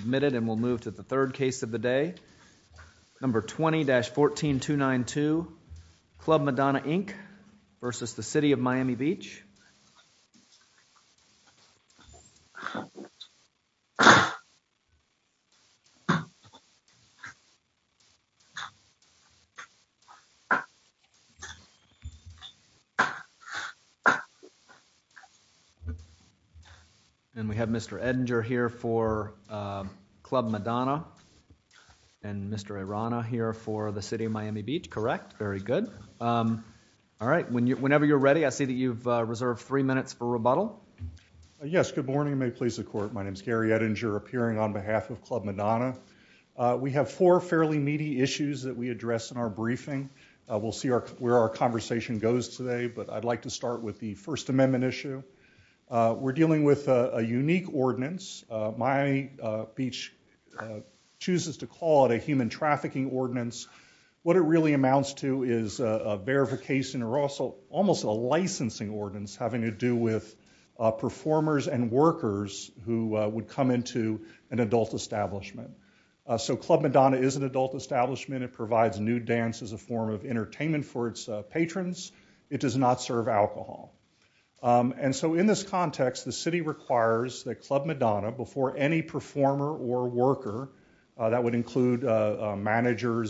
Admitted and we'll move to the third case of the day. Number 20-14292, Club Madonna Inc. v. City of Miami Beach. And we have Mr. Edinger here for Club Madonna and Mr. Arana here for the City of Miami Beach. Correct? Very good. All right. Whenever you're ready. I see that you've reserved three minutes for rebuttal. Yes. Good morning. May it please the Court. My name is Gary Edinger, appearing on behalf of Club Madonna. We have four fairly meaty issues that we address in our briefing. We'll see where our conversation goes today, but I'd like to start with the First Amendment issue. We're dealing with a unique ordinance. Miami Beach chooses to call it a human trafficking ordinance. What it really amounts to is a verification or also almost a licensing ordinance having to do with performers and workers who would come into an adult establishment. So Club Madonna is an adult establishment. It provides nude dance as a form of entertainment for its patrons. It does not serve alcohol. And so in this context, the city requires that Club Madonna, before any performer or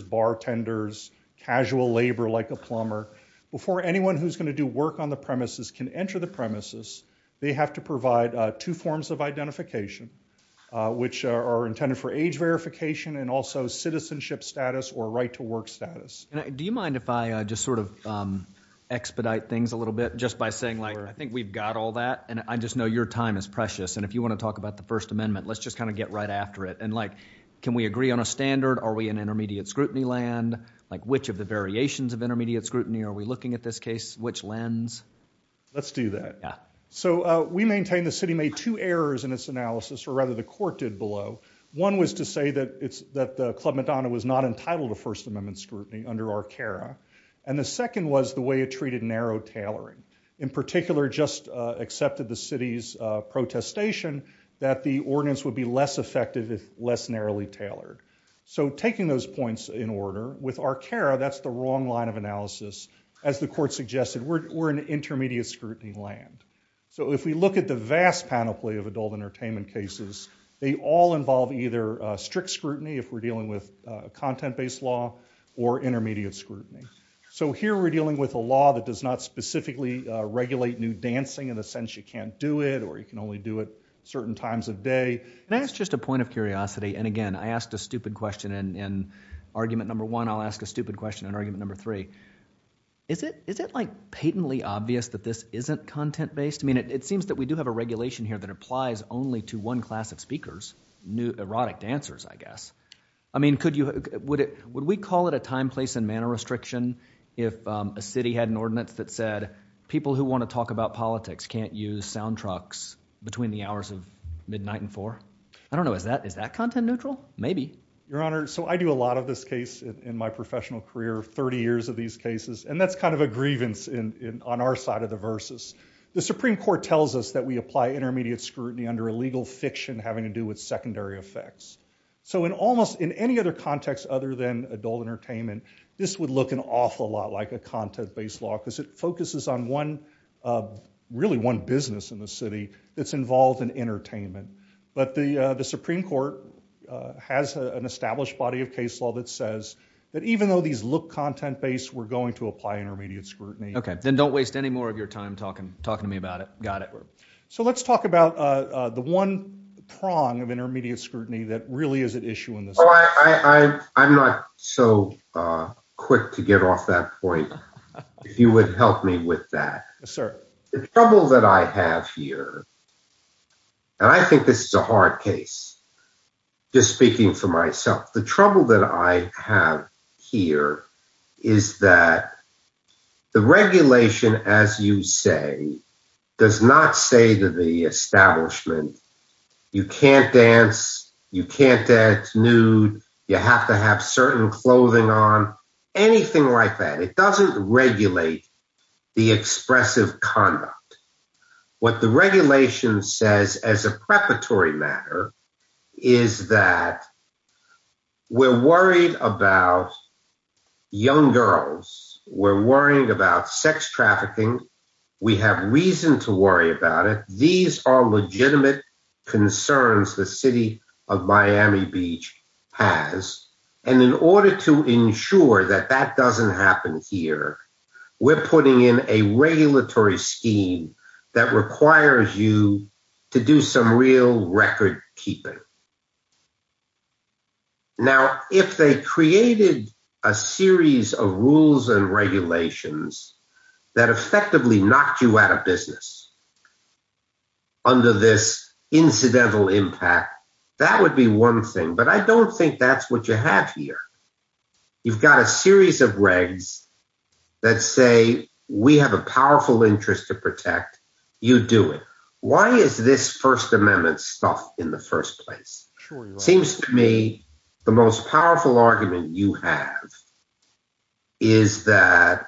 bartenders, casual labor like a plumber, before anyone who's going to do work on the premises can enter the premises, they have to provide two forms of identification, which are intended for age verification and also citizenship status or right to work status. Do you mind if I just sort of expedite things a little bit just by saying, like, I think we've got all that, and I just know your time is precious, and if you want to talk about the First Amendment, let's just kind of get right after it. And like, can we agree on a standard? Are we in intermediate scrutiny land? Like which of the variations of intermediate scrutiny are we looking at this case? Which lens? Let's do that. So we maintain the city made two errors in its analysis, or rather the court did below. One was to say that Club Madonna was not entitled to First Amendment scrutiny under our CARA. And the second was the way it treated narrow tailoring. In particular, just accepted the city's protestation that the ordinance would be less effective if less narrowly tailored. So taking those points in order, with our CARA, that's the wrong line of analysis. As the court suggested, we're in intermediate scrutiny land. So if we look at the vast panoply of adult entertainment cases, they all involve either strict scrutiny, if we're dealing with a content-based law, or intermediate scrutiny. So here we're dealing with a law that does not specifically regulate nude dancing in the sense you can't do it, or you can only do it certain times of day. Can I ask just a point of curiosity? And again, I asked a stupid question in argument number one. I'll ask a stupid question in argument number three. Is it like patently obvious that this isn't content-based? I mean, it seems that we do have a regulation here that applies only to one class of speakers, nude erotic dancers, I guess. I mean, would we call it a time, place, and manner restriction if a city had an ordinance that said people who want to talk about politics can't use sound trucks between the hours of nine and four? I don't know. Is that content-neutral? Maybe. Your Honor, so I do a lot of this case in my professional career, 30 years of these cases, and that's kind of a grievance on our side of the versus. The Supreme Court tells us that we apply intermediate scrutiny under a legal fiction having to do with secondary effects. So in any other context other than adult entertainment, this would look an awful lot like a content-based case law because it focuses on really one business in the city that's involved in entertainment. But the Supreme Court has an established body of case law that says that even though these look content-based, we're going to apply intermediate scrutiny. Okay. Then don't waste any more of your time talking to me about it. Got it. So let's talk about the one prong of intermediate scrutiny that really is at issue in this case. I'm not so quick to get off that point if you would help me with that. Yes, sir. The trouble that I have here, and I think this is a hard case, just speaking for myself, the trouble that I have here is that the regulation, as you say, does not say to the establishment, you can't dance, you can't dance nude, you have to have certain clothing on, anything like that. It doesn't regulate the expressive conduct. What the regulation says as a preparatory matter is that we're worried about young girls. We're worrying about sex trafficking. We have reason to worry about it. These are legitimate concerns the city of Miami Beach has. And in order to ensure that that doesn't happen here, we're putting in a regulatory scheme that requires you to do some real record keeping. Now, if they created a series of rules and regulations that effectively knocked you out of business under this incidental impact, that would be one thing. But I don't think that's what you have here. You've got a series of regs that say, we have a powerful interest to protect, you do it. Why is this First Amendment stuff in the first place? Seems to me the most powerful argument you have is that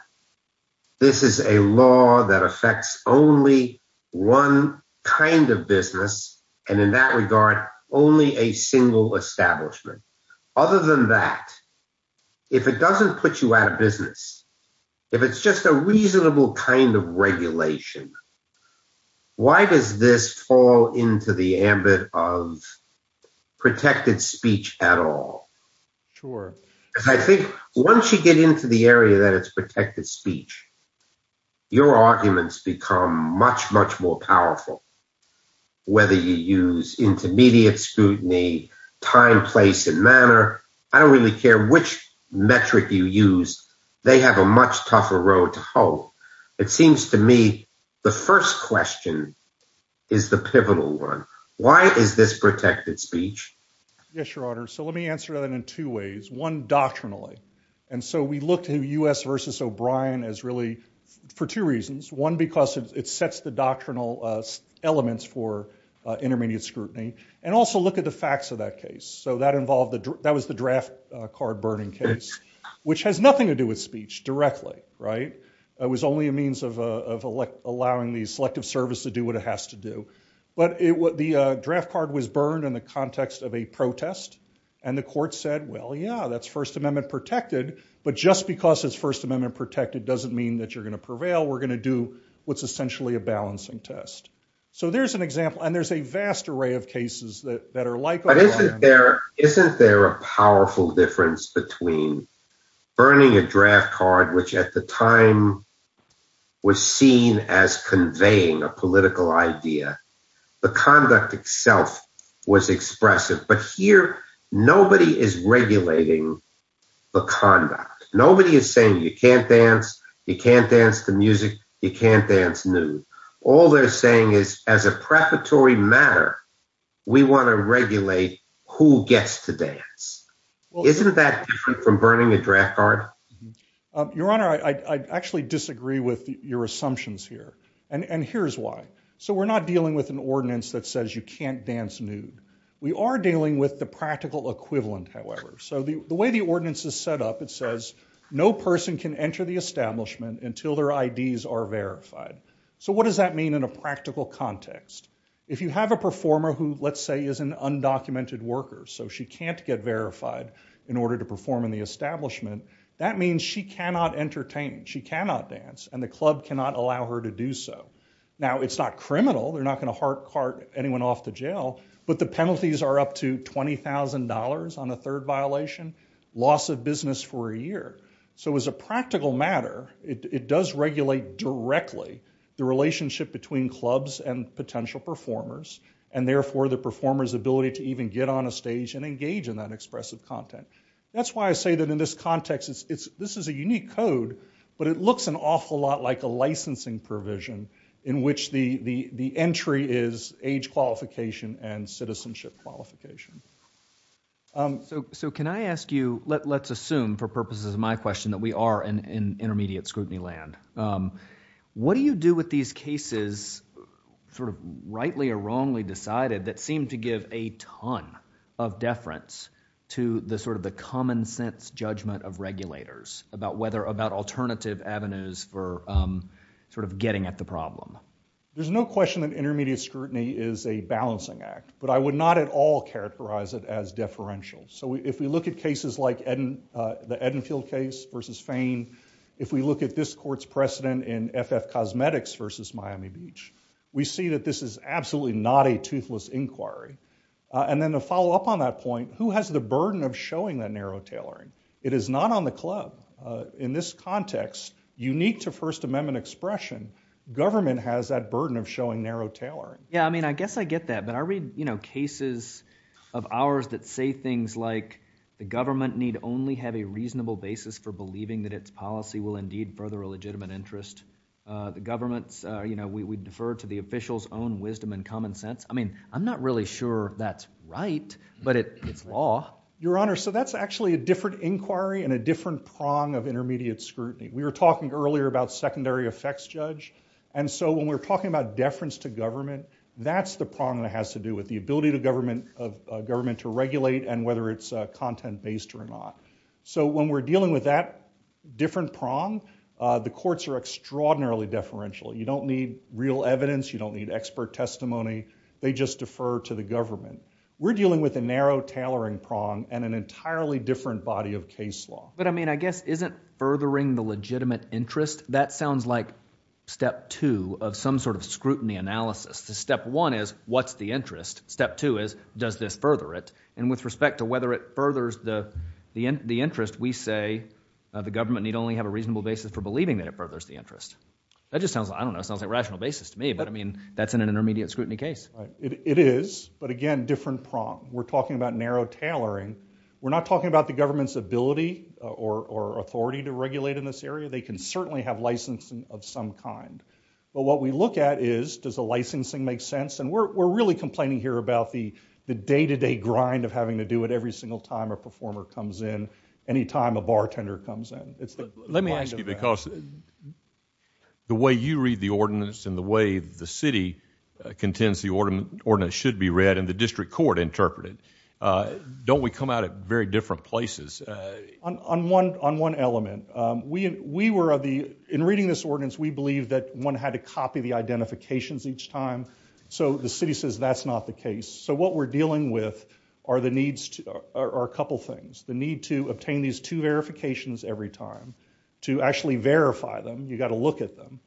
this is a law that affects only one kind of business, and in that regard, only a single establishment. Other than that, if it doesn't put you out of business, if it's just a reasonable kind of regulation, why does this fall into the ambit of protected speech at all? Sure. Because I think once you get into the area that it's protected speech, your arguments become much, much more powerful. Whether you use intermediate scrutiny, time, place, and manner, I don't really care which metric you use. They have a much tougher road to hope. It seems to me the first question is the pivotal one. Why is this protected speech? Yes, Your Honor. So let me answer that in two ways. One, doctrinally. And so we looked at U.S. versus O'Brien as really, for two reasons. One, because it sets the doctrinal elements for intermediate scrutiny. And also look at the facts of that case. So that involved, that was the draft card burning case, which has nothing to do with speech directly, right? It was only a means of allowing the selective service to do what it has to do. But the draft card was burned in the context of a protest. And the court said, well, yeah, that's First Amendment protected. But just because it's First Amendment protected doesn't mean that you're going to prevail. We're going to do what's essentially a balancing test. So there's an example. Isn't there a powerful difference between burning a draft card, which at the time was seen as conveying a political idea? The conduct itself was expressive. But here, nobody is regulating the conduct. Nobody is saying you can't dance, you can't dance to music, you can't dance nude. All they're saying is, as a preparatory matter, we want to regulate who gets to dance. Isn't that different from burning a draft card? Your Honor, I actually disagree with your assumptions here. And here's why. So we're not dealing with an ordinance that says you can't dance nude. We are dealing with the practical equivalent, however. So the way the ordinance is set up, it says no person can enter the establishment until their IDs are verified. So what does that mean in a practical context? If you have a performer who, let's say, is an undocumented worker, so she can't get verified in order to perform in the establishment, that means she cannot entertain, she cannot dance, and the club cannot allow her to do so. Now, it's not criminal, they're not going to hard cart anyone off to jail, but the penalties are up to $20,000 on a third violation, loss of business for a year. So as a practical matter, it does regulate directly the relationship between clubs and potential performers, and therefore, the performer's ability to even get on a stage and engage in that expressive content. That's why I say that in this context, this is a unique code, but it looks an awful lot like a licensing provision, in which the entry is age qualification and citizenship qualification. So can I ask you, let's assume for purposes of my question that we are in intermediate scrutiny land, what do you do with these cases sort of rightly or wrongly decided that seem to give a ton of deference to the sort of the common sense judgment of regulators about whether, about alternative avenues for sort of getting at the problem? There's no question that intermediate scrutiny is a balancing act, but I would not at all characterize it as deferential. So if we look at cases like the Edenfield case versus Fane, if we look at this court's precedent in FF Cosmetics versus Miami Beach, we see that this is absolutely not a toothless inquiry. And then to follow up on that point, who has the burden of showing that narrow tailoring? It is not on the club. In this context, unique to First Amendment expression, government has that burden of showing narrow tailoring. Yeah, I mean, I guess I get that. But I read cases of ours that say things like, the government need only have a reasonable basis for believing that its policy will indeed further a legitimate interest. The government's, we defer to the official's own wisdom and common sense. I mean, I'm not really sure that's right, but it's law. Your Honor, so that's actually a different inquiry and a different prong of intermediate scrutiny. We were talking earlier about secondary effects judge. And so when we're talking about deference to government, that's the prong that has to do with the ability of government to regulate and whether it's content-based or not. So when we're dealing with that different prong, the courts are extraordinarily deferential. You don't need real evidence, you don't need expert testimony. They just defer to the government. We're dealing with a narrow tailoring prong and an entirely different body of case law. But I mean, I guess isn't furthering the legitimate interest, that sounds like step two of some sort of scrutiny analysis. The step one is, what's the interest? Step two is, does this further it? And with respect to whether it furthers the interest, we say, the government need only have a reasonable basis for believing that it furthers the interest. That just sounds like, I don't know, it sounds like a rational basis to me. But I mean, that's an intermediate scrutiny case. It is, but again, different prong. We're talking about narrow tailoring. We're not talking about the government's ability or authority to regulate in this area. They can certainly have licensing of some kind. But what we look at is, does the licensing make sense? And we're really complaining here about the day-to-day grind of having to do it every single time a performer comes in, any time a bartender comes in. It's the kind of thing. Let me ask you, because the way you read the ordinance and the way the city contends the ordinance should be read and the district court interpret it, don't we come out at very different places? On one element, we were of the, in reading this ordinance, we believe that one had to copy the identifications each time. So the city says that's not the case. So what we're dealing with are the needs to, are a couple things. The need to obtain these two verifications every time. To actually verify them, you gotta look at them.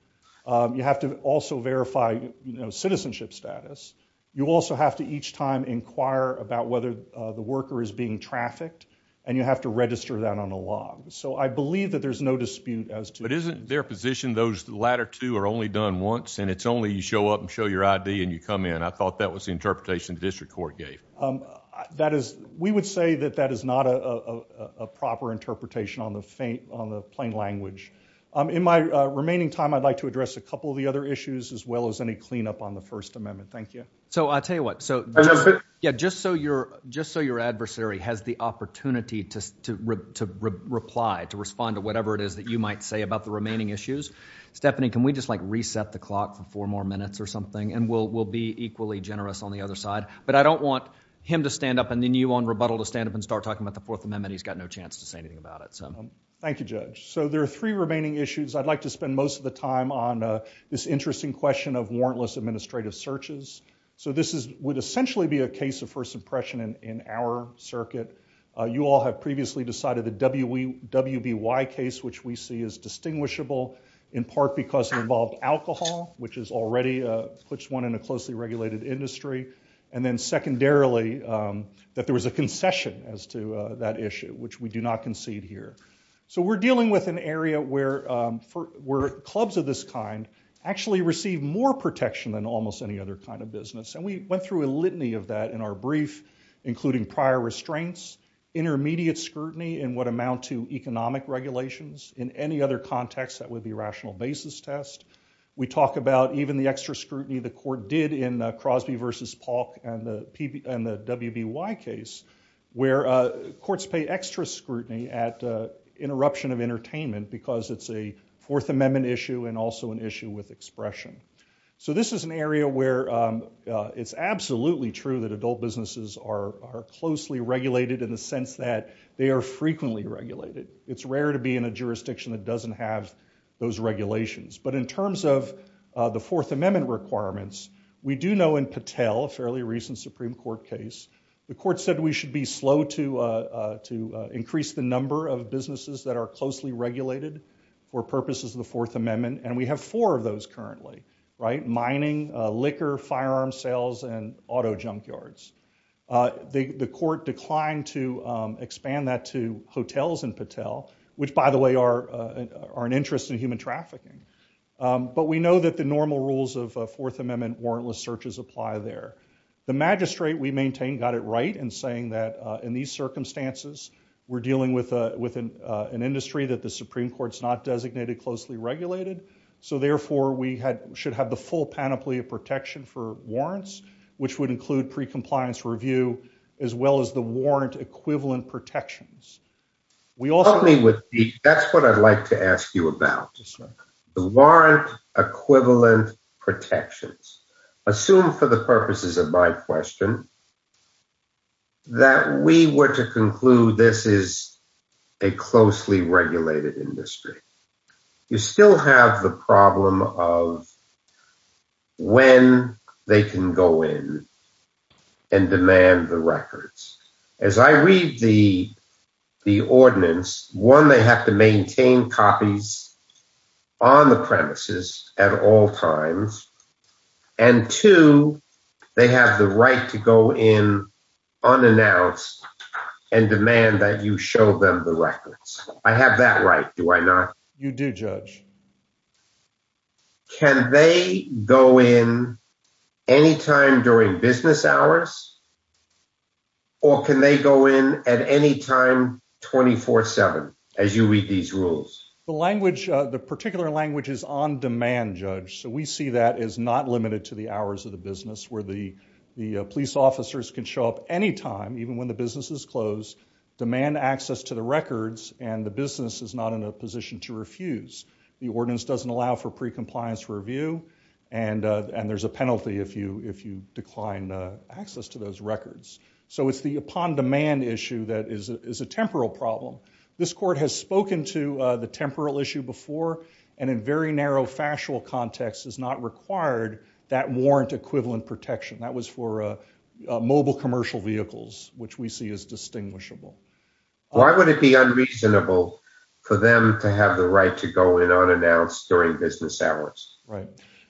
You have to also verify, you know, citizenship status. You also have to each time inquire about whether the worker is being trafficked. And you have to register that on a log. So I believe that there's no dispute as to- But isn't their position those latter two are only done once? And it's only you show up and show your ID and you come in. I thought that was the interpretation the district court gave. We would say that that is not a proper interpretation on the plain language. In my remaining time, I'd like to address a couple of the other issues, as well as any cleanup on the First Amendment. Thank you. So I'll tell you what, so just so your adversary has the opportunity to reply, to respond to whatever it is that you might say about the remaining issues. Stephanie, can we just like reset the clock for four more minutes or something, and we'll be equally generous on the other side. But I don't want him to stand up and then you on rebuttal to stand up and start talking about the Fourth Amendment. He's got no chance to say anything about it, so. Thank you, Judge. So there are three remaining issues. I'd like to spend most of the time on this interesting question of warrantless administrative searches. So this would essentially be a case of first impression in our circuit. You all have previously decided the WBY case, which we see as distinguishable, in part because it involved alcohol, which is already puts one in a closely regulated industry. And then secondarily, that there was a concession as to that issue, which we do not concede here. So we're dealing with an area where clubs of this kind actually receive more protection than almost any other kind of business. And we went through a litany of that in our brief, including prior restraints, intermediate scrutiny in what amount to economic regulations. In any other context, that would be rational basis test. We talk about even the extra scrutiny the court did in Crosby versus Polk and the WBY case, where courts pay extra scrutiny at interruption of an issue with expression. So this is an area where it's absolutely true that adult businesses are closely regulated in the sense that they are frequently regulated. It's rare to be in a jurisdiction that doesn't have those regulations. But in terms of the Fourth Amendment requirements, we do know in Patel, a fairly recent Supreme Court case, the court said we should be slow to increase the number of businesses that are closely regulated for purposes of the Fourth Amendment. And we have four of those currently, right? Mining, liquor, firearm sales, and auto junkyards. The court declined to expand that to hotels in Patel, which by the way are an interest in human trafficking. But we know that the normal rules of Fourth Amendment warrantless searches apply there. The magistrate, we maintain, got it right in saying that in these circumstances, we're dealing with an industry that the Supreme Court's not designated closely regulated. So therefore, we should have the full panoply of protection for warrants, which would include pre-compliance review, as well as the warrant equivalent protections. We also- That's what I'd like to ask you about, the warrant equivalent protections. Assume for the purposes of my question, that we were to conclude this is a closely regulated industry. You still have the problem of when they can go in and demand the records. As I read the ordinance, one, they have to maintain copies on the premises at all times. And two, they have the right to go in unannounced and demand that you show them the records. I have that right, do I not? You do, Judge. Can they go in anytime during business hours? Or can they go in at any time 24-7, as you read these rules? The particular language is on demand, Judge. So we see that as not limited to the hours of the business, where the police officers can show up anytime, even when the business is closed, demand access to the records, and the business is not in a position to refuse. The ordinance doesn't allow for pre-compliance review, and there's a penalty if you decline access to those records. So it's the upon demand issue that is a temporal problem. This court has spoken to the temporal issue before, and in very narrow factual context, has not required that warrant equivalent protection. That was for mobile commercial vehicles, which we see as distinguishable. Why would it be unreasonable for them to have the right to go in unannounced during business hours? Right.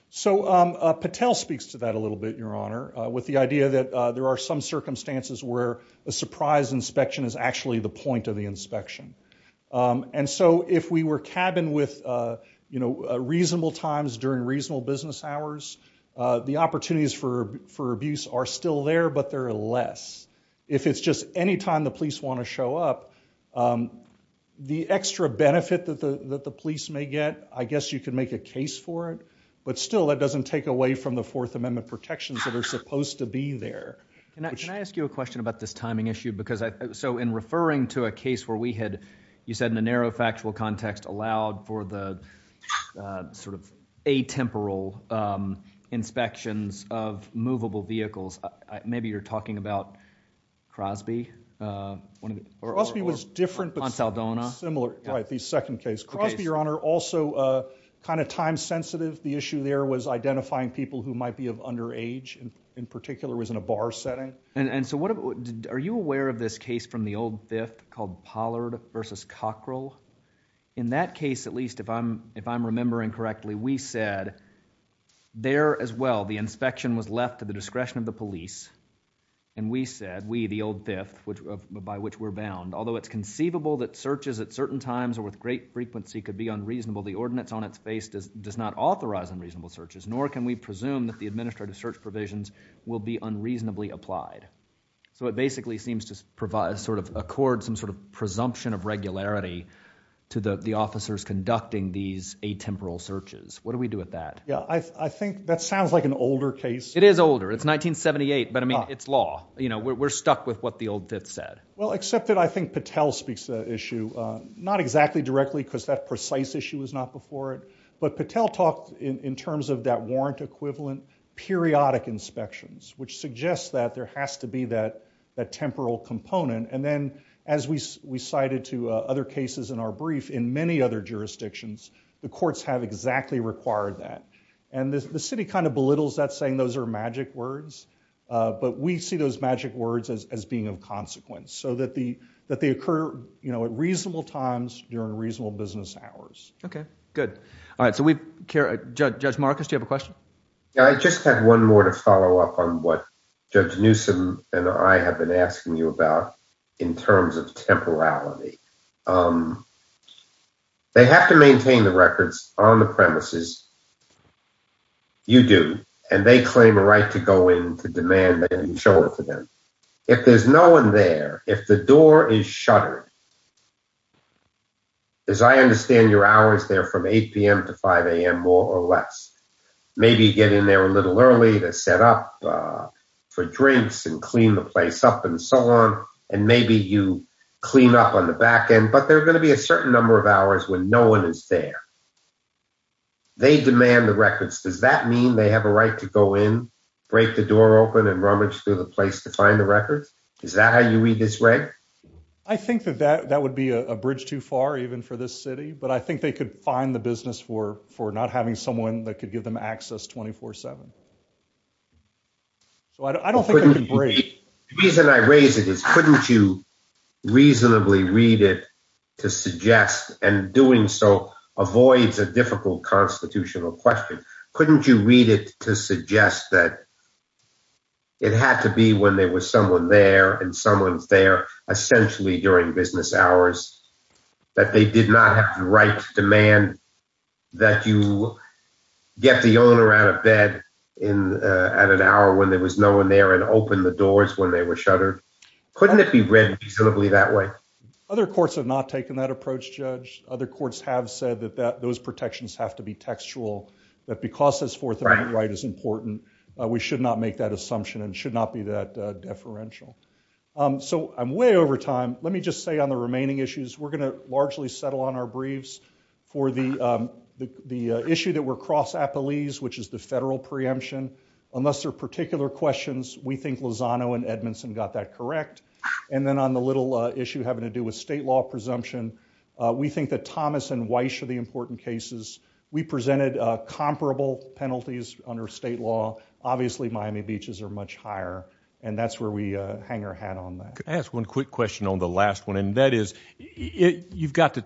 So Patel speaks to that a little bit, Your Honor, with the idea that there are some circumstances where a surprise inspection is actually the point of the inspection. And so if we were cabined with reasonable times during reasonable business hours, the opportunities for abuse are still there, but there are less. If it's just any time the police wanna show up, the extra benefit that the police may get, I guess you could make a case for it. But still, that doesn't take away from the Fourth Amendment protections that are supposed to be there. Can I ask you a question about this timing issue? So in referring to a case where we had, you said in a narrow factual context, allowed for the sort of atemporal inspections of movable vehicles. Maybe you're talking about Crosby? Or- Crosby was different, but- Monsaldona. Similar, right, the second case. Crosby, Your Honor, also kind of time sensitive. The issue there was identifying people who might be of underage, in particular was in a bar setting. And so what, are you aware of this case from the old fifth called Pollard versus Cockrell? In that case, at least, if I'm remembering correctly, we said, there as well, the inspection was left to the discretion of the police. And we said, we, the old fifth, by which we're bound, although it's conceivable that searches at certain times or with great frequency could be unreasonable, the ordinance on its face does not authorize unreasonable searches. Nor can we presume that the administrative search provisions will be unreasonably applied. So it basically seems to provide, sort of accord some sort of presumption of regularity to the officers conducting these atemporal searches. What do we do with that? Yeah, I think that sounds like an older case. It is older. It's 1978, but I mean, it's law. You know, we're stuck with what the old fifth said. Well, except that I think Patel speaks to that issue. Not exactly directly, because that precise issue was not before it. But Patel talked in terms of that warrant equivalent periodic inspections, which suggests that there has to be that temporal component. And then, as we cited to other cases in our brief, in many other jurisdictions, the courts have exactly required that. And the city kind of belittles that, saying those are magic words. But we see those magic words as being of consequence, so that they occur at reasonable times during reasonable business hours. Okay, good. I just have one more to follow up on what Judge Newsome and I have been asking you about in terms of temporality. They have to maintain the records on the premises. You do, and they claim a right to go in to demand that you show it to them. If there's no one there, if the door is shuttered, as I understand your hours there from 8 PM to 5 AM more or less. Maybe you get in there a little early to set up for drinks and clean the place up and so on. And maybe you clean up on the back end, but there are gonna be a certain number of hours when no one is there. They demand the records. Does that mean they have a right to go in, break the door open and rummage through the place to find the records? Is that how you read this, Ray? I think that that would be a bridge too far, even for this city. But I think they could find the business for not having someone that could give them access 24-7. So I don't think they can break. The reason I raise it is couldn't you reasonably read it to suggest, and doing so avoids a difficult constitutional question. Couldn't you read it to suggest that it had to be when there was someone there, and someone's there essentially during business hours, that they did not have the right to demand that you get the owner out of bed at an hour when there was no one there and open the doors when they were shuttered? Couldn't it be read reasonably that way? Other courts have not taken that approach, Judge. Other courts have said that those protections have to be textual, that because this Fourth Amendment right is important, we should not make that assumption and should not be that deferential. So I'm way over time. Let me just say on the remaining issues, we're going to largely settle on our briefs for the issue that we're cross appellees, which is the federal preemption. Unless there are particular questions, we think Lozano and Edmondson got that correct. And then on the little issue having to do with state law presumption, we think that Thomas and Weiss are the important cases. We presented comparable penalties under state law. Obviously, Miami Beaches are much higher, and that's where we hang our hat on that. Can I ask one quick question on the last one? And that is, you've got to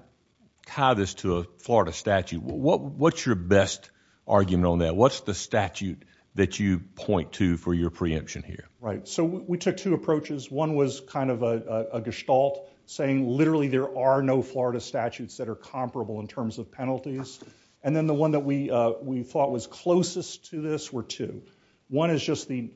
tie this to a Florida statute. What's your best argument on that? What's the statute that you point to for your preemption here? Right, so we took two approaches. One was kind of a gestalt, saying literally there are no Florida statutes that are comparable in terms of penalties. And then the one that we thought was closest to this were two. One is just the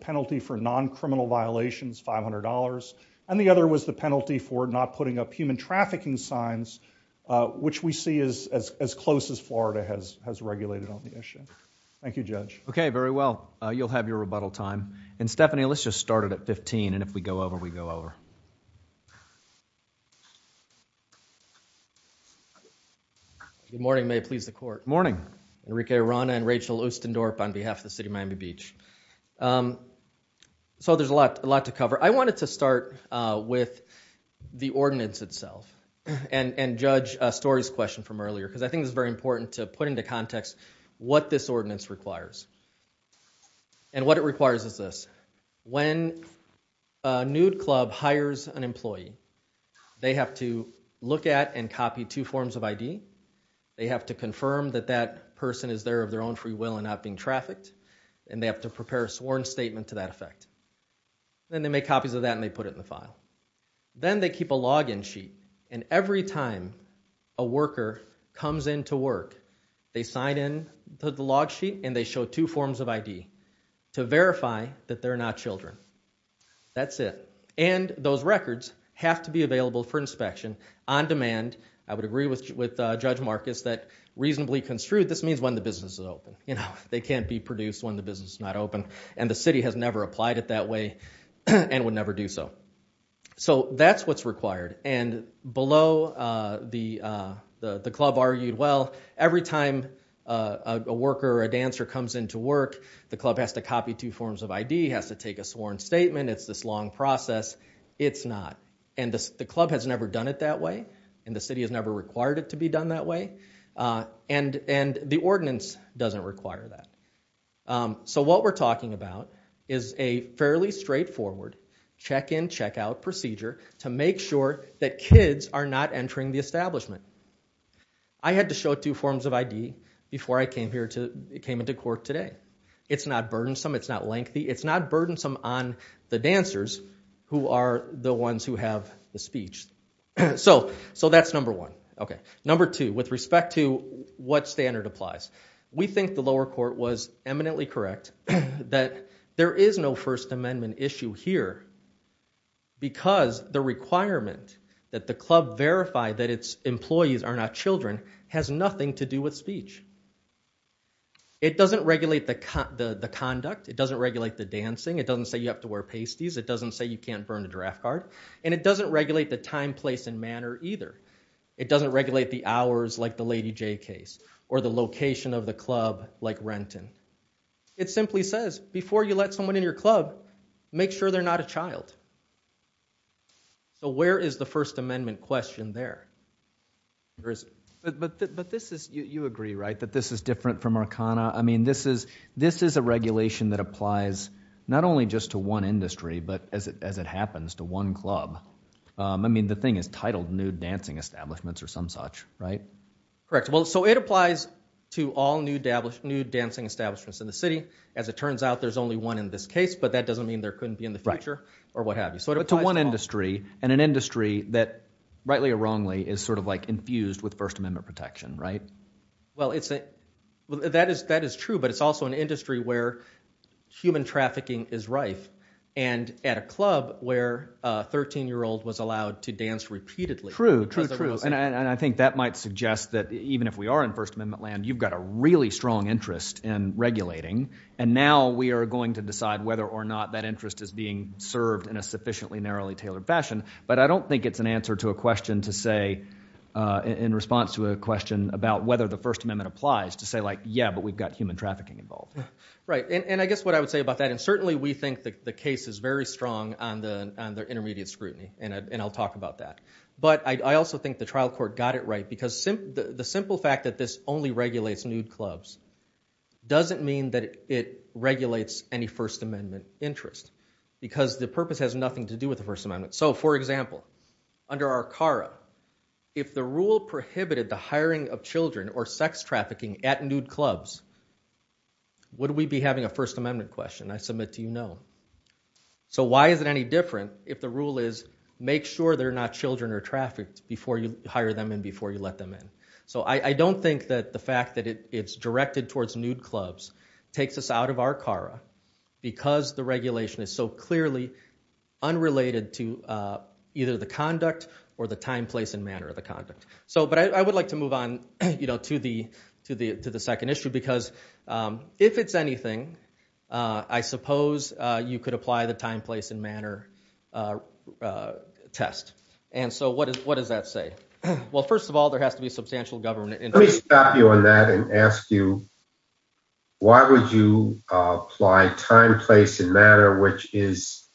penalty for non-criminal violations, $500. And the other was the penalty for not putting up human trafficking signs, which we see is as close as Florida has regulated on the issue. Thank you, Judge. Okay, very well. You'll have your rebuttal time. And Stephanie, let's just start it at 15, and if we go over, we go over. Good morning, may it please the court. Morning. Enrique Arana and Rachel Oostendorp on behalf of the City of Miami Beach. So there's a lot to cover. I wanted to start with the ordinance itself and judge Story's question from earlier, because I think it's very important to put into context what this ordinance requires. And what it requires is this. When a nude club hires an employee, they have to look at and copy two forms of ID. They have to confirm that that person is there of their own free will and not being trafficked, and they have to prepare a sworn statement to that effect. Then they make copies of that and they put it in the file. Then they keep a login sheet. And every time a worker comes into work, they sign in to the log sheet and they show two forms of ID to verify that they're not children, that's it. And those records have to be available for inspection on demand. I would agree with Judge Marcus that reasonably construed, this means when the business is open. They can't be produced when the business is not open. And the city has never applied it that way and would never do so. So that's what's required. And below, the club argued, well, every time a worker or a dancer comes into work, the club has to copy two forms of ID, has to take a sworn statement, it's this long process, it's not. And the club has never done it that way. And the city has never required it to be done that way. And the ordinance doesn't require that. So what we're talking about is a fairly straightforward check-in, check-out procedure to make sure that kids are not entering the establishment. I had to show two forms of ID before I came into court today. It's not burdensome, it's not lengthy, it's not burdensome on the dancers who are the ones who have the speech. So that's number one. Okay, number two, with respect to what standard applies. We think the lower court was eminently correct that there is no First Amendment issue here because the requirement that the club verify that its employees are not children has nothing to do with speech. It doesn't regulate the conduct, it doesn't regulate the dancing, it doesn't say you have to wear pasties, it doesn't say you can't burn a draft card. And it doesn't regulate the time, place, and manner either. It doesn't regulate the hours, like the Lady J case, or the location of the club, like Renton. It simply says, before you let someone in your club, make sure they're not a child. So where is the First Amendment question there, or is it? But this is, you agree, right, that this is different from Arcana? I mean, this is a regulation that applies not only just to one industry, but as it happens, to one club. I mean, the thing is titled nude dancing establishments or some such, right? Correct, well, so it applies to all nude dancing establishments in the city. As it turns out, there's only one in this case, but that doesn't mean there couldn't be in the future, or what have you. So it applies to all- But to one industry, and an industry that, rightly or wrongly, is sort of infused with First Amendment protection, right? Well, that is true, but it's also an industry where human trafficking is rife. And at a club where a 13-year-old was allowed to dance repeatedly- True, true, true. And I think that might suggest that even if we are in First Amendment land, you've got a really strong interest in regulating. And now we are going to decide whether or not that interest is being served in a sufficiently narrowly tailored fashion. But I don't think it's an answer to a question to say, in response to a question about whether the First Amendment applies, to say like, yeah, but we've got human trafficking involved. Right, and I guess what I would say about that, and certainly we think that the case is very strong on the intermediate scrutiny, and I'll talk about that. But I also think the trial court got it right, because the simple fact that this only regulates nude clubs doesn't mean that it regulates any First Amendment interest, because the purpose has nothing to do with the First Amendment. So, for example, under Arcara, if the rule prohibited the hiring of children or sex trafficking at nude clubs, would we be having a First Amendment question? I submit to you, no. So why is it any different if the rule is, make sure there are not children or trafficked before you hire them and before you let them in? So I don't think that the fact that it's directed towards nude clubs takes us out of Arcara, because the regulation is so clearly unrelated to either the conduct or the time, place, and manner of the conduct. So, but I would like to move on to the second issue, because if it's anything, I suppose you could apply the time, place, and manner test. And so what does that say? Well, first of all, there has to be substantial government interest. Let me stop you on that and ask you, why would you apply time, place, and manner, which is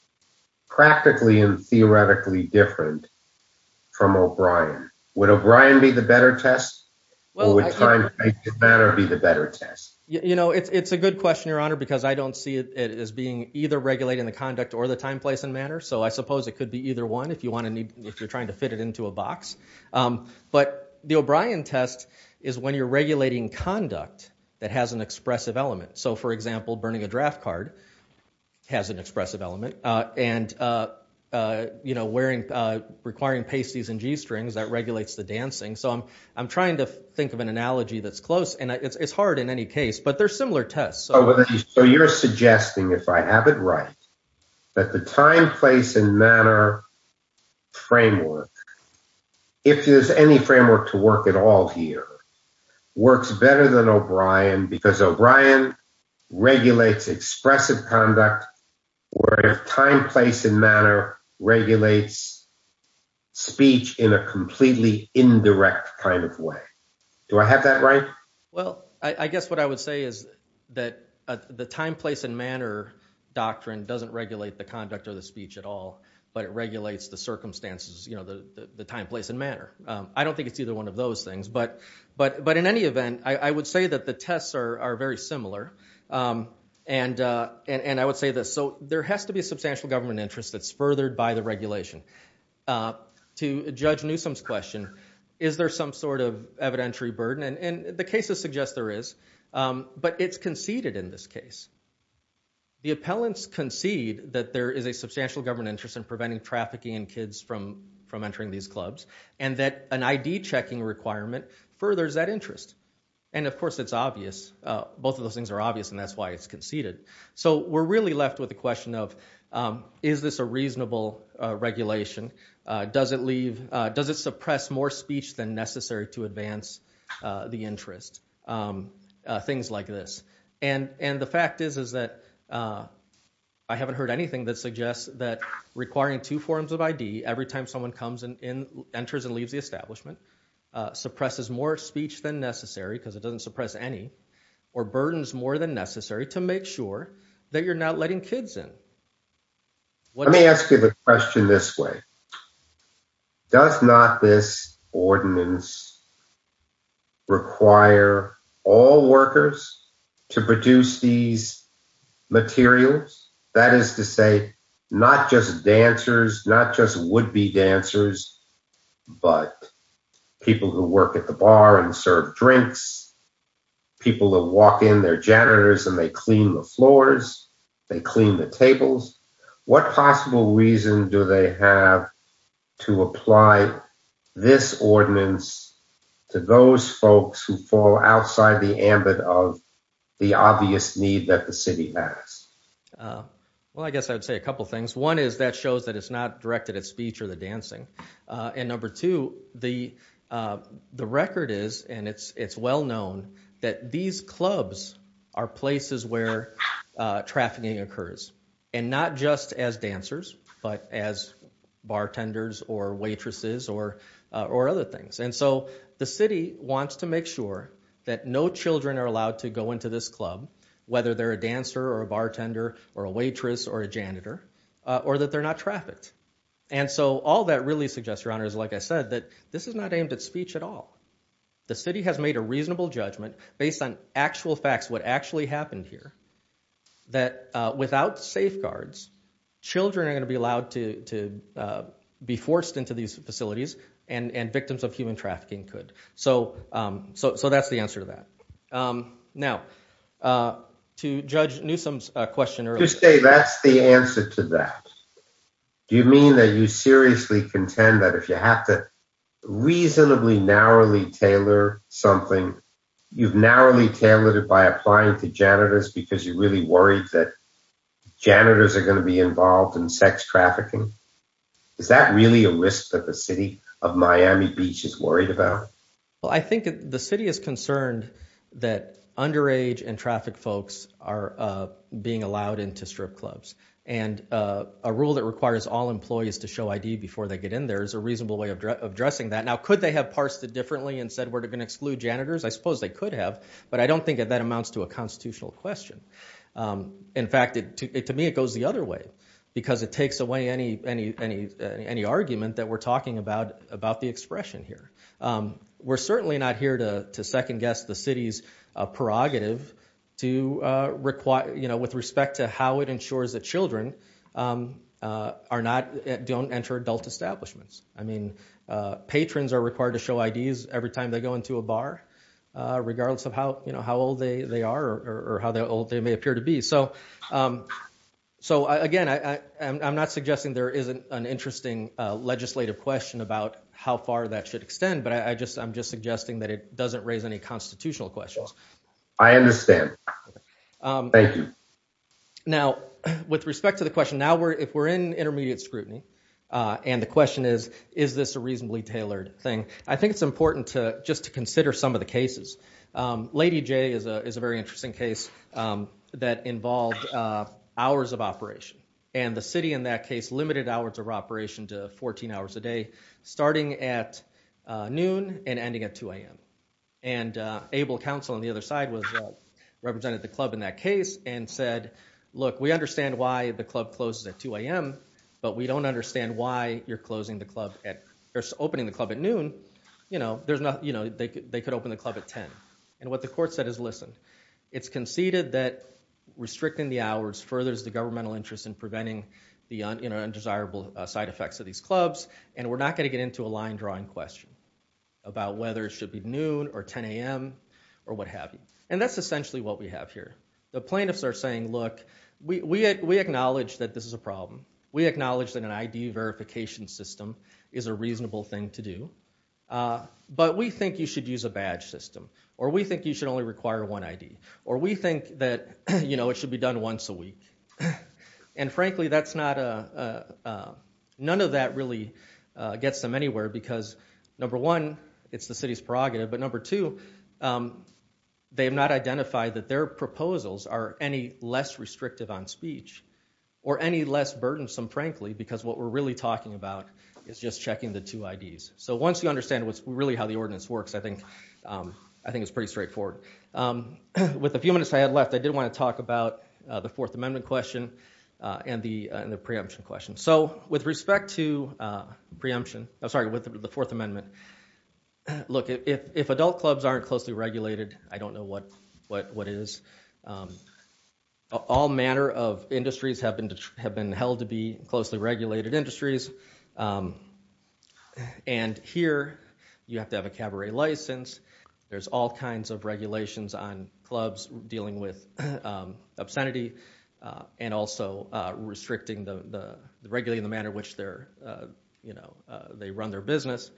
practically and theoretically different from O'Brien? Would O'Brien be the better test, or would time, place, and manner be the better test? You know, it's a good question, Your Honor, because I don't see it as being either regulating the conduct or the time, place, and manner. So I suppose it could be either one if you're trying to fit it into a box. But the O'Brien test is when you're regulating conduct that has an expressive element. So, for example, burning a draft card has an expressive element. And requiring pasties and g-strings, that regulates the dancing. So I'm trying to think of an analogy that's close. It's hard in any case, but they're similar tests. So you're suggesting, if I have it right, that the time, place, and manner framework, if there's any framework to work at all here, works better than O'Brien because O'Brien regulates expressive conduct, whereas time, place, and manner regulates speech in a completely indirect kind of way. Do I have that right? Well, I guess what I would say is that the time, place, and manner doctrine doesn't regulate the conduct or the speech at all. But it regulates the circumstances, you know, the time, place, and manner. I don't think it's either one of those things. But in any event, I would say that the tests are very similar. And I would say this. So there has to be a substantial government interest that's furthered by the regulation. To Judge Newsom's question, is there some sort of evidentiary burden? And the cases suggest there is. But it's conceded in this case. The appellants concede that there is a substantial government interest in preventing trafficking in kids from entering these clubs, and that an ID checking requirement furthers that interest. And of course, it's obvious. Both of those things are obvious. And that's why it's conceded. So we're really left with the question of, is this a reasonable regulation? Does it suppress more speech than necessary to advance the interest? Things like this. And the fact is that I haven't heard anything that suggests that requiring two forms of ID every time someone comes and enters and leaves the establishment suppresses more speech than necessary, because it doesn't suppress any, or burdens more than necessary to make sure that you're not letting kids in. Let me ask you the question this way. Does not this ordinance require all workers to produce these materials? That is to say, not just dancers, not just would-be dancers, but people who work at the bar and serve drinks, people who walk in, they're janitors and they clean the floors, they clean the tables. What possible reason do they have to apply this ordinance to those folks who fall outside the ambit of the obvious need that the city has? Well, I guess I would say a couple of things. One is that shows that it's not directed at speech or the dancing. And number two, the record is, and it's well known, that these clubs are places where trafficking occurs. And not just as dancers, but as bartenders or waitresses or other things. And so the city wants to make sure that no children are allowed to go into this club, whether they're a dancer or a bartender or a waitress or a janitor, or that they're not trafficked. And so all that really suggests, Your Honor, is like I said, that this is not aimed at speech at all. The city has made a reasonable judgment based on actual facts, what actually happened here, that without safeguards, children are going to be allowed to be forced into these facilities and victims of human trafficking could. So that's the answer to that. Now, to Judge Newsom's question earlier. You say that's the answer to that. Do you mean that you seriously contend that if you have to reasonably narrowly tailor something, you've narrowly tailored it by applying to janitors because you're really worried that janitors are going to be involved in sex trafficking? Is that really a risk that the city of Miami Beach is worried about? Well, I think the city is concerned that underage and trafficked folks are being allowed into strip clubs. And a rule that requires all employees to show ID before they get in there is a reasonable way of addressing that. Now, could they have parsed it differently and said we're going to exclude janitors? I suppose they could have. But I don't think that that amounts to a constitutional question. In fact, to me, it goes the other way, because it takes away any argument that we're talking about the expression here. We're certainly not here to second guess the city's prerogative with respect to how it ensures that children don't enter adult establishments. I mean, patrons are required to show IDs every time they go into a bar, regardless of how old they are or how old they may appear to be. So, again, I'm not suggesting there isn't an interesting legislative question about how far that should extend. But I'm just suggesting that it doesn't raise any constitutional questions. I understand. Thank you. Now, with respect to the question, now, if we're in intermediate scrutiny and the question is, is this a reasonably tailored thing? I think it's important to just to consider some of the cases. Lady J is a very interesting case that involved hours of operation. And the city, in that case, limited hours of operation to 14 hours a day, starting at noon and ending at 2 a.m. And Abel Council, on the other side, represented the club in that case and said, look, we understand why the club closes at 2 a.m. But we don't understand why you're closing the club at or opening the club at noon. You know, there's not, you know, they could open the club at 10. And what the court said is, listen, it's conceded that restricting the hours furthers the governmental interest in preventing the undesirable side effects of these clubs. And we're not going to get into a line drawing question about whether it should be noon or 10 a.m. or what have you. And that's essentially what we have here. We acknowledge that an ID verification system is a reasonable thing to do. But we think you should use a badge system. Or we think you should only require one ID. Or we think that, you know, it should be done once a week. And frankly, that's not a, none of that really gets them anywhere. Because number one, it's the city's prerogative. But number two, they have not identified that their proposals are any less restrictive on speech or any less burdensome, frankly, because what we're really talking about is just checking the two IDs. So once you understand what's really how the ordinance works, I think it's pretty straightforward. With the few minutes I had left, I did want to talk about the Fourth Amendment question and the preemption question. So with respect to preemption, I'm sorry, with the Fourth Amendment, look, if adult clubs aren't closely regulated, I don't know what it is. All manner of industries have been held to be closely regulated industries. And here, you have to have a cabaret license. There's all kinds of regulations on clubs dealing with obscenity. And also restricting the, regulating the manner which they're, you know, they run their business.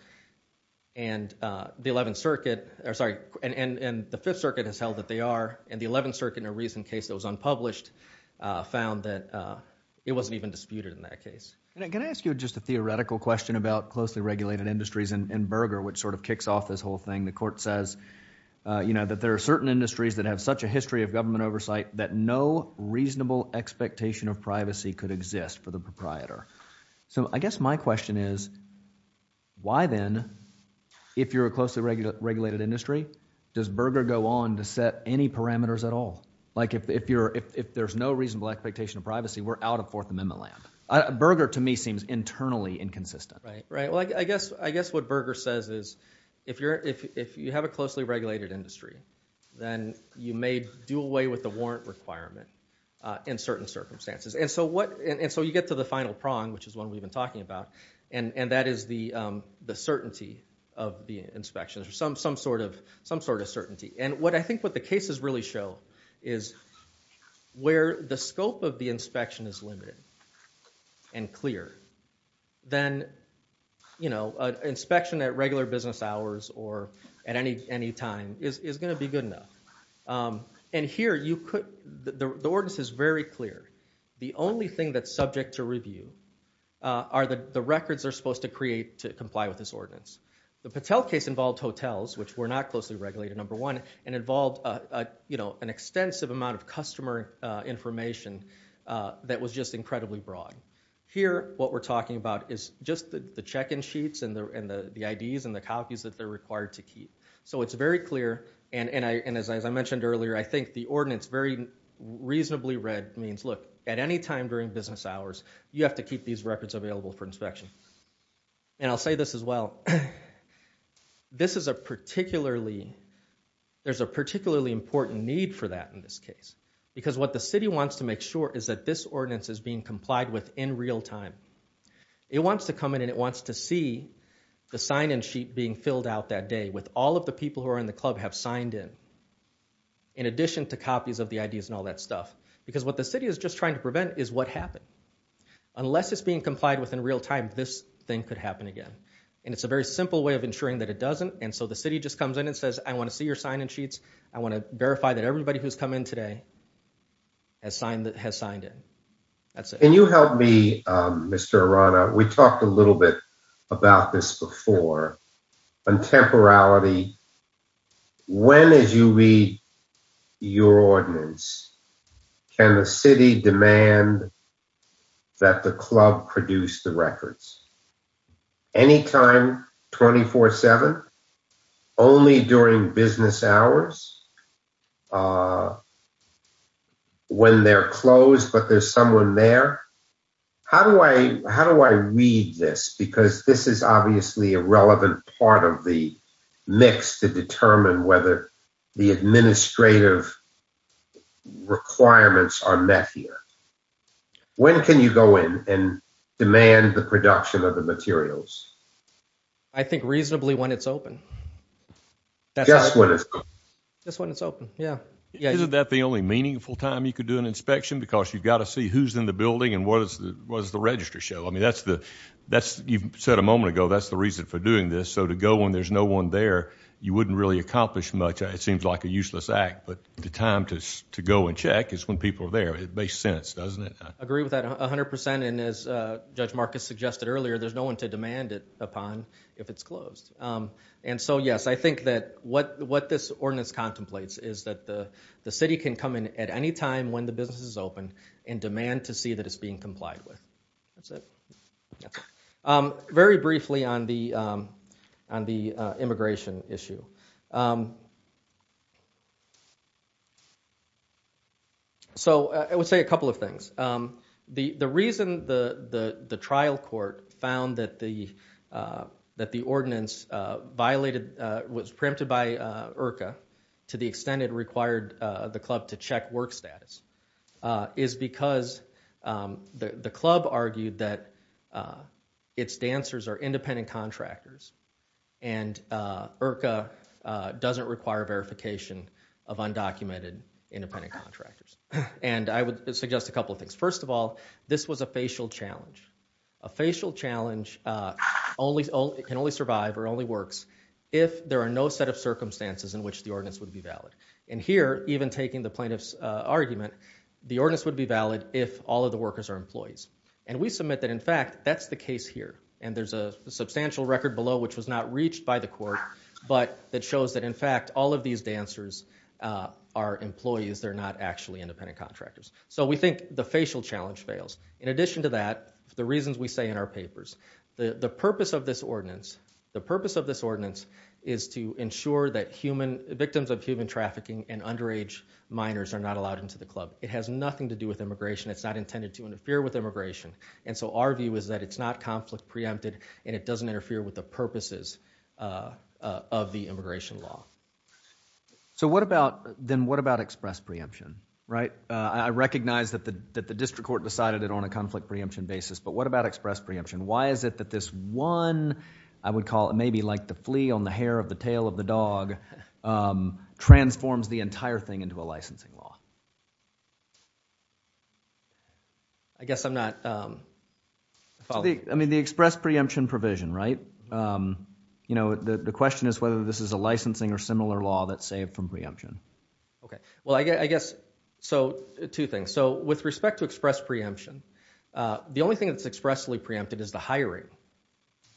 And the Eleventh Circuit, or sorry, and the Fifth Circuit has held that they are. And the Eleventh Circuit, in a recent case that was unpublished, found that it wasn't even disputed in that case. And can I ask you just a theoretical question about closely regulated industries and Berger, which sort of kicks off this whole thing? The court says, you know, that there are certain industries that have such a history of government oversight that no reasonable expectation of privacy could exist for the proprietor. So I guess my question is, why then, if you're a closely regulated industry, does Berger go on to set any parameters at all? Like if you're, if there's no reasonable expectation of privacy, we're out of Fourth Amendment land. Berger, to me, seems internally inconsistent. Right, right. Well, I guess, I guess what Berger says is, if you're, if you have a closely regulated industry, then you may do away with the warrant requirement in certain circumstances. And so what, and so you get to the final prong, which is one we've been talking about. And that is the certainty of the inspections, some sort of, some sort of certainty. And what I think what the cases really show is, where the scope of the inspection is limited and clear, then, you know, an inspection at regular business hours or at any time is going to be good enough. And here you could, the ordinance is very clear. The only thing that's subject to review are the records they're supposed to create to comply with this ordinance. The Patel case involved hotels, which were not closely regulated, number one, and involved, you know, an extensive amount of customer information that was just incredibly broad. Here, what we're talking about is just the check-in sheets and the IDs and the copies that they're required to keep. So it's very clear, and as I mentioned earlier, I think the ordinance very reasonably read means, look, at any time during business hours, you have to keep these records available for inspection. And I'll say this as well. This is a particularly, there's a particularly important need for that in this case. Because what the city wants to make sure is that this ordinance is being complied with in real time. It wants to come in and it wants to see the sign-in sheet being filled out that day with all of the people who are in the club have signed in, in addition to copies of the IDs and all that stuff. Because what the city is just trying to prevent is what happened. Unless it's being complied with in real time, this thing could happen again. And it's a very simple way of ensuring that it doesn't. And so the city just comes in and says, I want to see your sign-in sheets. I want to verify that everybody who's come in today has signed in. That's it. Can you help me, Mr. Arana? We talked a little bit about this before. On temporality, when is UB your ordinance? Can the city demand that the club produce the records? Any time, 24-7? Only during business hours? When they're closed but there's someone there? How do I read this? Because this is obviously a relevant part of the mix to determine whether the administrative requirements are met here. When can you go in and demand the production of the materials? I think reasonably when it's open. Just when it's open? Just when it's open, yeah. Isn't that the only meaningful time you could do an inspection? Because you've got to see who's in the building and what is the register show. I mean, you said a moment ago, that's the reason for doing this. So to go when there's no one there, you wouldn't really accomplish much. It seems like a useless act. But the time to go and check is when people are there. It makes sense, doesn't it? I agree with that 100%. And as Judge Marcus suggested earlier, there's no one to demand it upon if it's closed. And so, yes, I think that what this ordinance contemplates is that the city can come in at any time when the business is open and demand to see that it's being complied with. That's it. Very briefly on the immigration issue. So I would say a couple of things. The reason the trial court found that the ordinance violated, was preempted by IRCA to the extent it required the club to check work status is because the club argued that its dancers are independent contractors and IRCA doesn't require verification of undocumented independent contractors. And I would suggest a couple of things. First of all, this was a facial challenge. A facial challenge can only survive or only works if there are no set of circumstances in which the ordinance would be valid. And here, even taking the plaintiff's argument, the ordinance would be valid if all of the workers are employees. And we submit that, in fact, that's the case here. And there's a substantial record below, which was not reached by the court, but that shows that, in fact, all of these dancers are employees. They're not actually independent contractors. So we think the facial challenge fails. In addition to that, the reasons we say in our papers, the purpose of this ordinance, the purpose of this ordinance is to ensure that human, victims of human trafficking and underage minors are not allowed into the club. It has nothing to do with immigration. It's not intended to interfere with immigration. And so our view is that it's not conflict preempted and it doesn't interfere with the purposes of the immigration law. So what about, then, what about express preemption, right? I recognize that the district court decided it on a conflict preemption basis, but what about express preemption? Why is it that this one, I would call it, maybe like the flea on the hair of the tail of the dog, transforms the entire thing into a licensing law? I guess I'm not following. I mean, the express preemption provision, right? You know, the question is whether this is a licensing or similar law that's saved from preemption. Okay, well, I guess, so two things. So with respect to express preemption, the only thing that's expressly preempted is the hiring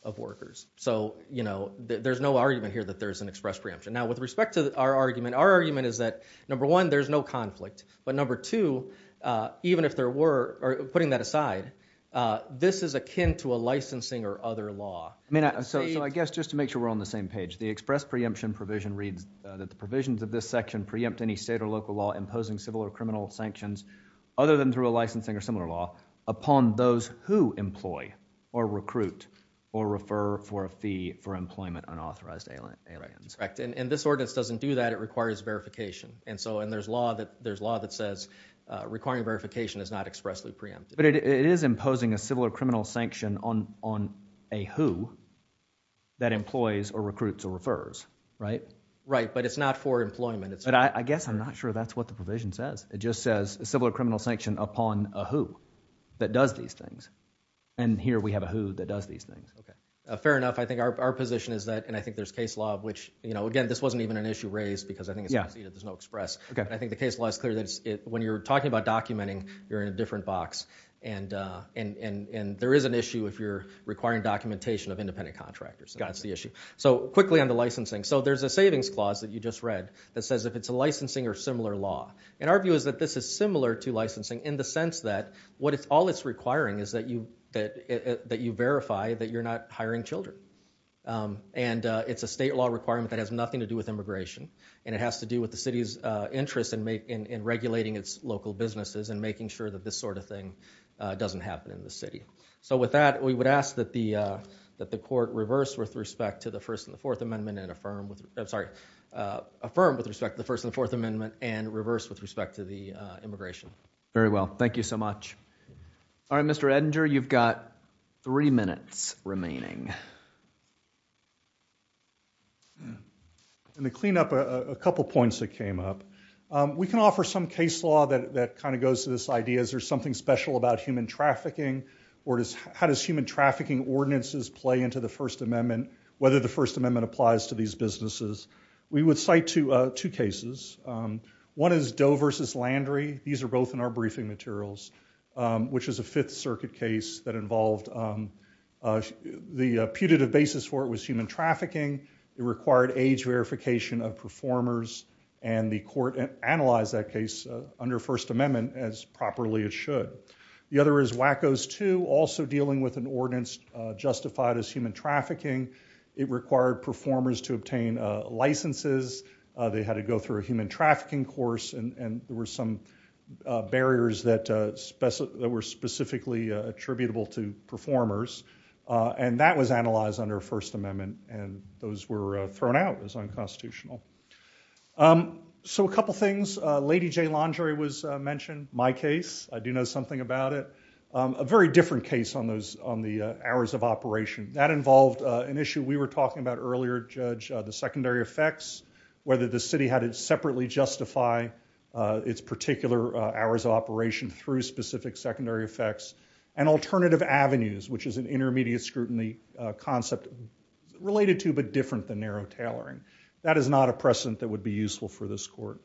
of workers. So, you know, there's no argument here that there's an express preemption. Now, with respect to our argument, our argument is that, number one, there's no conflict. But number two, even if there were, or putting that aside, this is akin to a licensing or other law. I mean, so I guess just to make sure we're on the same page, the express preemption provision reads that the provisions of this section preempt any state or local law imposing civil or criminal sanctions other than through a licensing or similar law upon those who employ or recruit or refer for a fee for employment unauthorized aliens. Correct, and this ordinance doesn't do that. It requires verification. And so, and there's law that says requiring verification is not expressly preempted. But it is imposing a civil or criminal sanction on a who that employs or recruits or refers, right? Right, but it's not for employment. But I guess I'm not sure that's what the provision says. It just says civil or criminal sanction upon a who that does these things. And here we have a who that does these things. Okay, fair enough. I think our position is that, and I think there's case law of which, you know, again, this wasn't even an issue raised because I think there's no express. I think the case law is clear that when you're talking about documenting, you're in a different box. And there is an issue if you're requiring documentation of independent contractors. That's the issue. So quickly on the licensing. So there's a savings clause that you just read that says if it's a licensing or similar law. And our view is that this is similar to licensing in the sense that all it's requiring And it's a state law requirement that has nothing to do with immigration. And it has to do with the city's interest in regulating its local businesses and making sure that this sort of thing doesn't happen in the city. So with that, we would ask that the court reverse with respect to the First and the Fourth Amendment and affirm with, I'm sorry, affirm with respect to the First and the Fourth Amendment and reverse with respect to the immigration. Very well. Thank you so much. All right, Mr. Edinger, you've got three minutes remaining. I'm going to clean up a couple of points that came up. We can offer some case law that kind of goes to this idea, is there something special about human trafficking? Or how does human trafficking ordinances play into the First Amendment, whether the First Amendment applies to these businesses? We would cite two cases. One is Doe versus Landry. These are both in our briefing materials, which is a Fifth Circuit case that involved the Fourth Circuit case. The putative basis for it was human trafficking. It required age verification of performers. And the court analyzed that case under First Amendment as properly as should. The other is Wackos 2, also dealing with an ordinance justified as human trafficking. It required performers to obtain licenses. They had to go through a human trafficking course. And there were some barriers that were specifically attributable to performers. And that was analyzed under First Amendment. And those were thrown out as unconstitutional. So a couple things, Lady J. Landry was mentioned, my case, I do know something about it. A very different case on the hours of operation. That involved an issue we were talking about earlier, Judge, the secondary effects, whether the city had to separately justify its particular hours of operation through specific secondary effects. And alternative avenues, which is an intermediate scrutiny concept related to but different than narrow tailoring. That is not a precedent that would be useful for this court.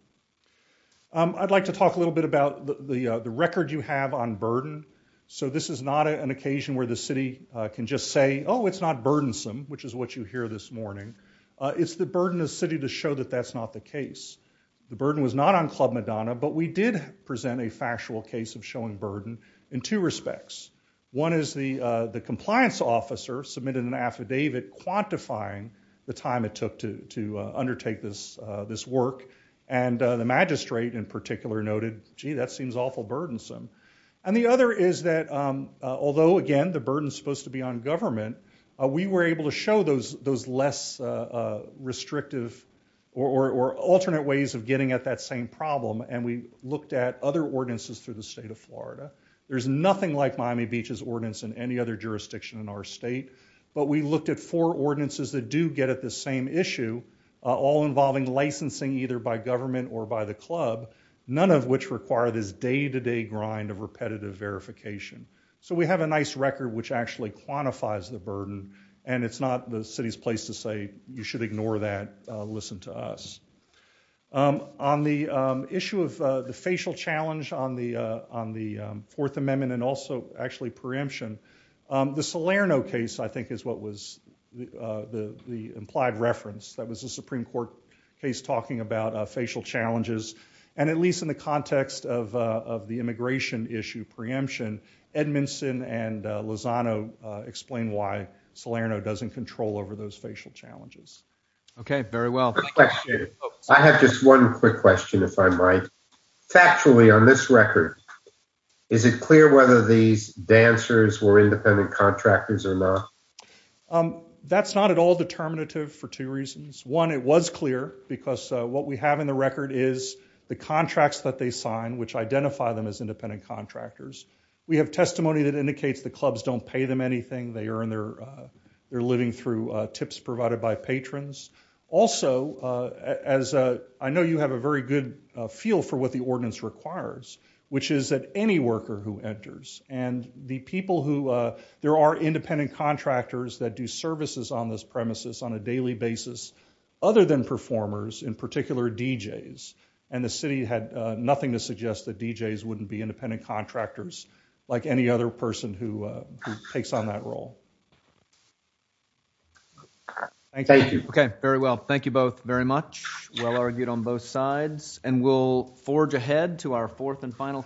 I'd like to talk a little bit about the record you have on burden. So this is not an occasion where the city can just say, oh, it's not burdensome, which is what you hear this morning. It's the burden of the city to show that that's not the case. The burden was not on Club Madonna, but we did present a factual case of showing burden in two respects. One is the compliance officer submitted an affidavit quantifying the time it took to undertake this work. And the magistrate in particular noted, gee, that seems awful burdensome. And the other is that, although again, the burden is supposed to be on government, we were able to show those less restrictive or alternate ways of getting at that same problem. And we looked at other ordinances through the state of Florida. There's nothing like Miami Beach's ordinance in any other jurisdiction in our state, but we looked at four ordinances that do get at the same issue, all involving licensing either by government or by the club, none of which require this day-to-day grind of repetitive verification. So we have a nice record which actually quantifies the burden, and it's not the city's place to say, you should ignore that, listen to us. On the issue of the facial challenge on the Fourth Amendment, and also actually preemption, the Salerno case, I think, is what was the implied reference. That was a Supreme Court case talking about facial challenges. And at least in the context of the immigration issue preemption, Edmondson and Lozano explained why Salerno doesn't control over those facial challenges. Okay, very well. I have just one quick question, if I might. Factually, on this record, is it clear whether these dancers were independent contractors or not? That's not at all determinative for two reasons. One, it was clear, because what we have in the record is the contracts that they sign, which identify them as independent contractors. We have testimony that indicates the clubs don't pay them anything. They're living through tips provided by patrons. Also, as I know you have a very good feel for what the ordinance requires, which is that any worker who enters, and the people who, there are independent contractors that do services on this premises on a daily basis, other than performers, in particular, DJs. And the city had nothing to suggest that DJs wouldn't be independent contractors, like any other person who takes on that role. Thank you. Okay, very well. Thank you both very much. Well argued on both sides. And we'll forge ahead to our fourth and final.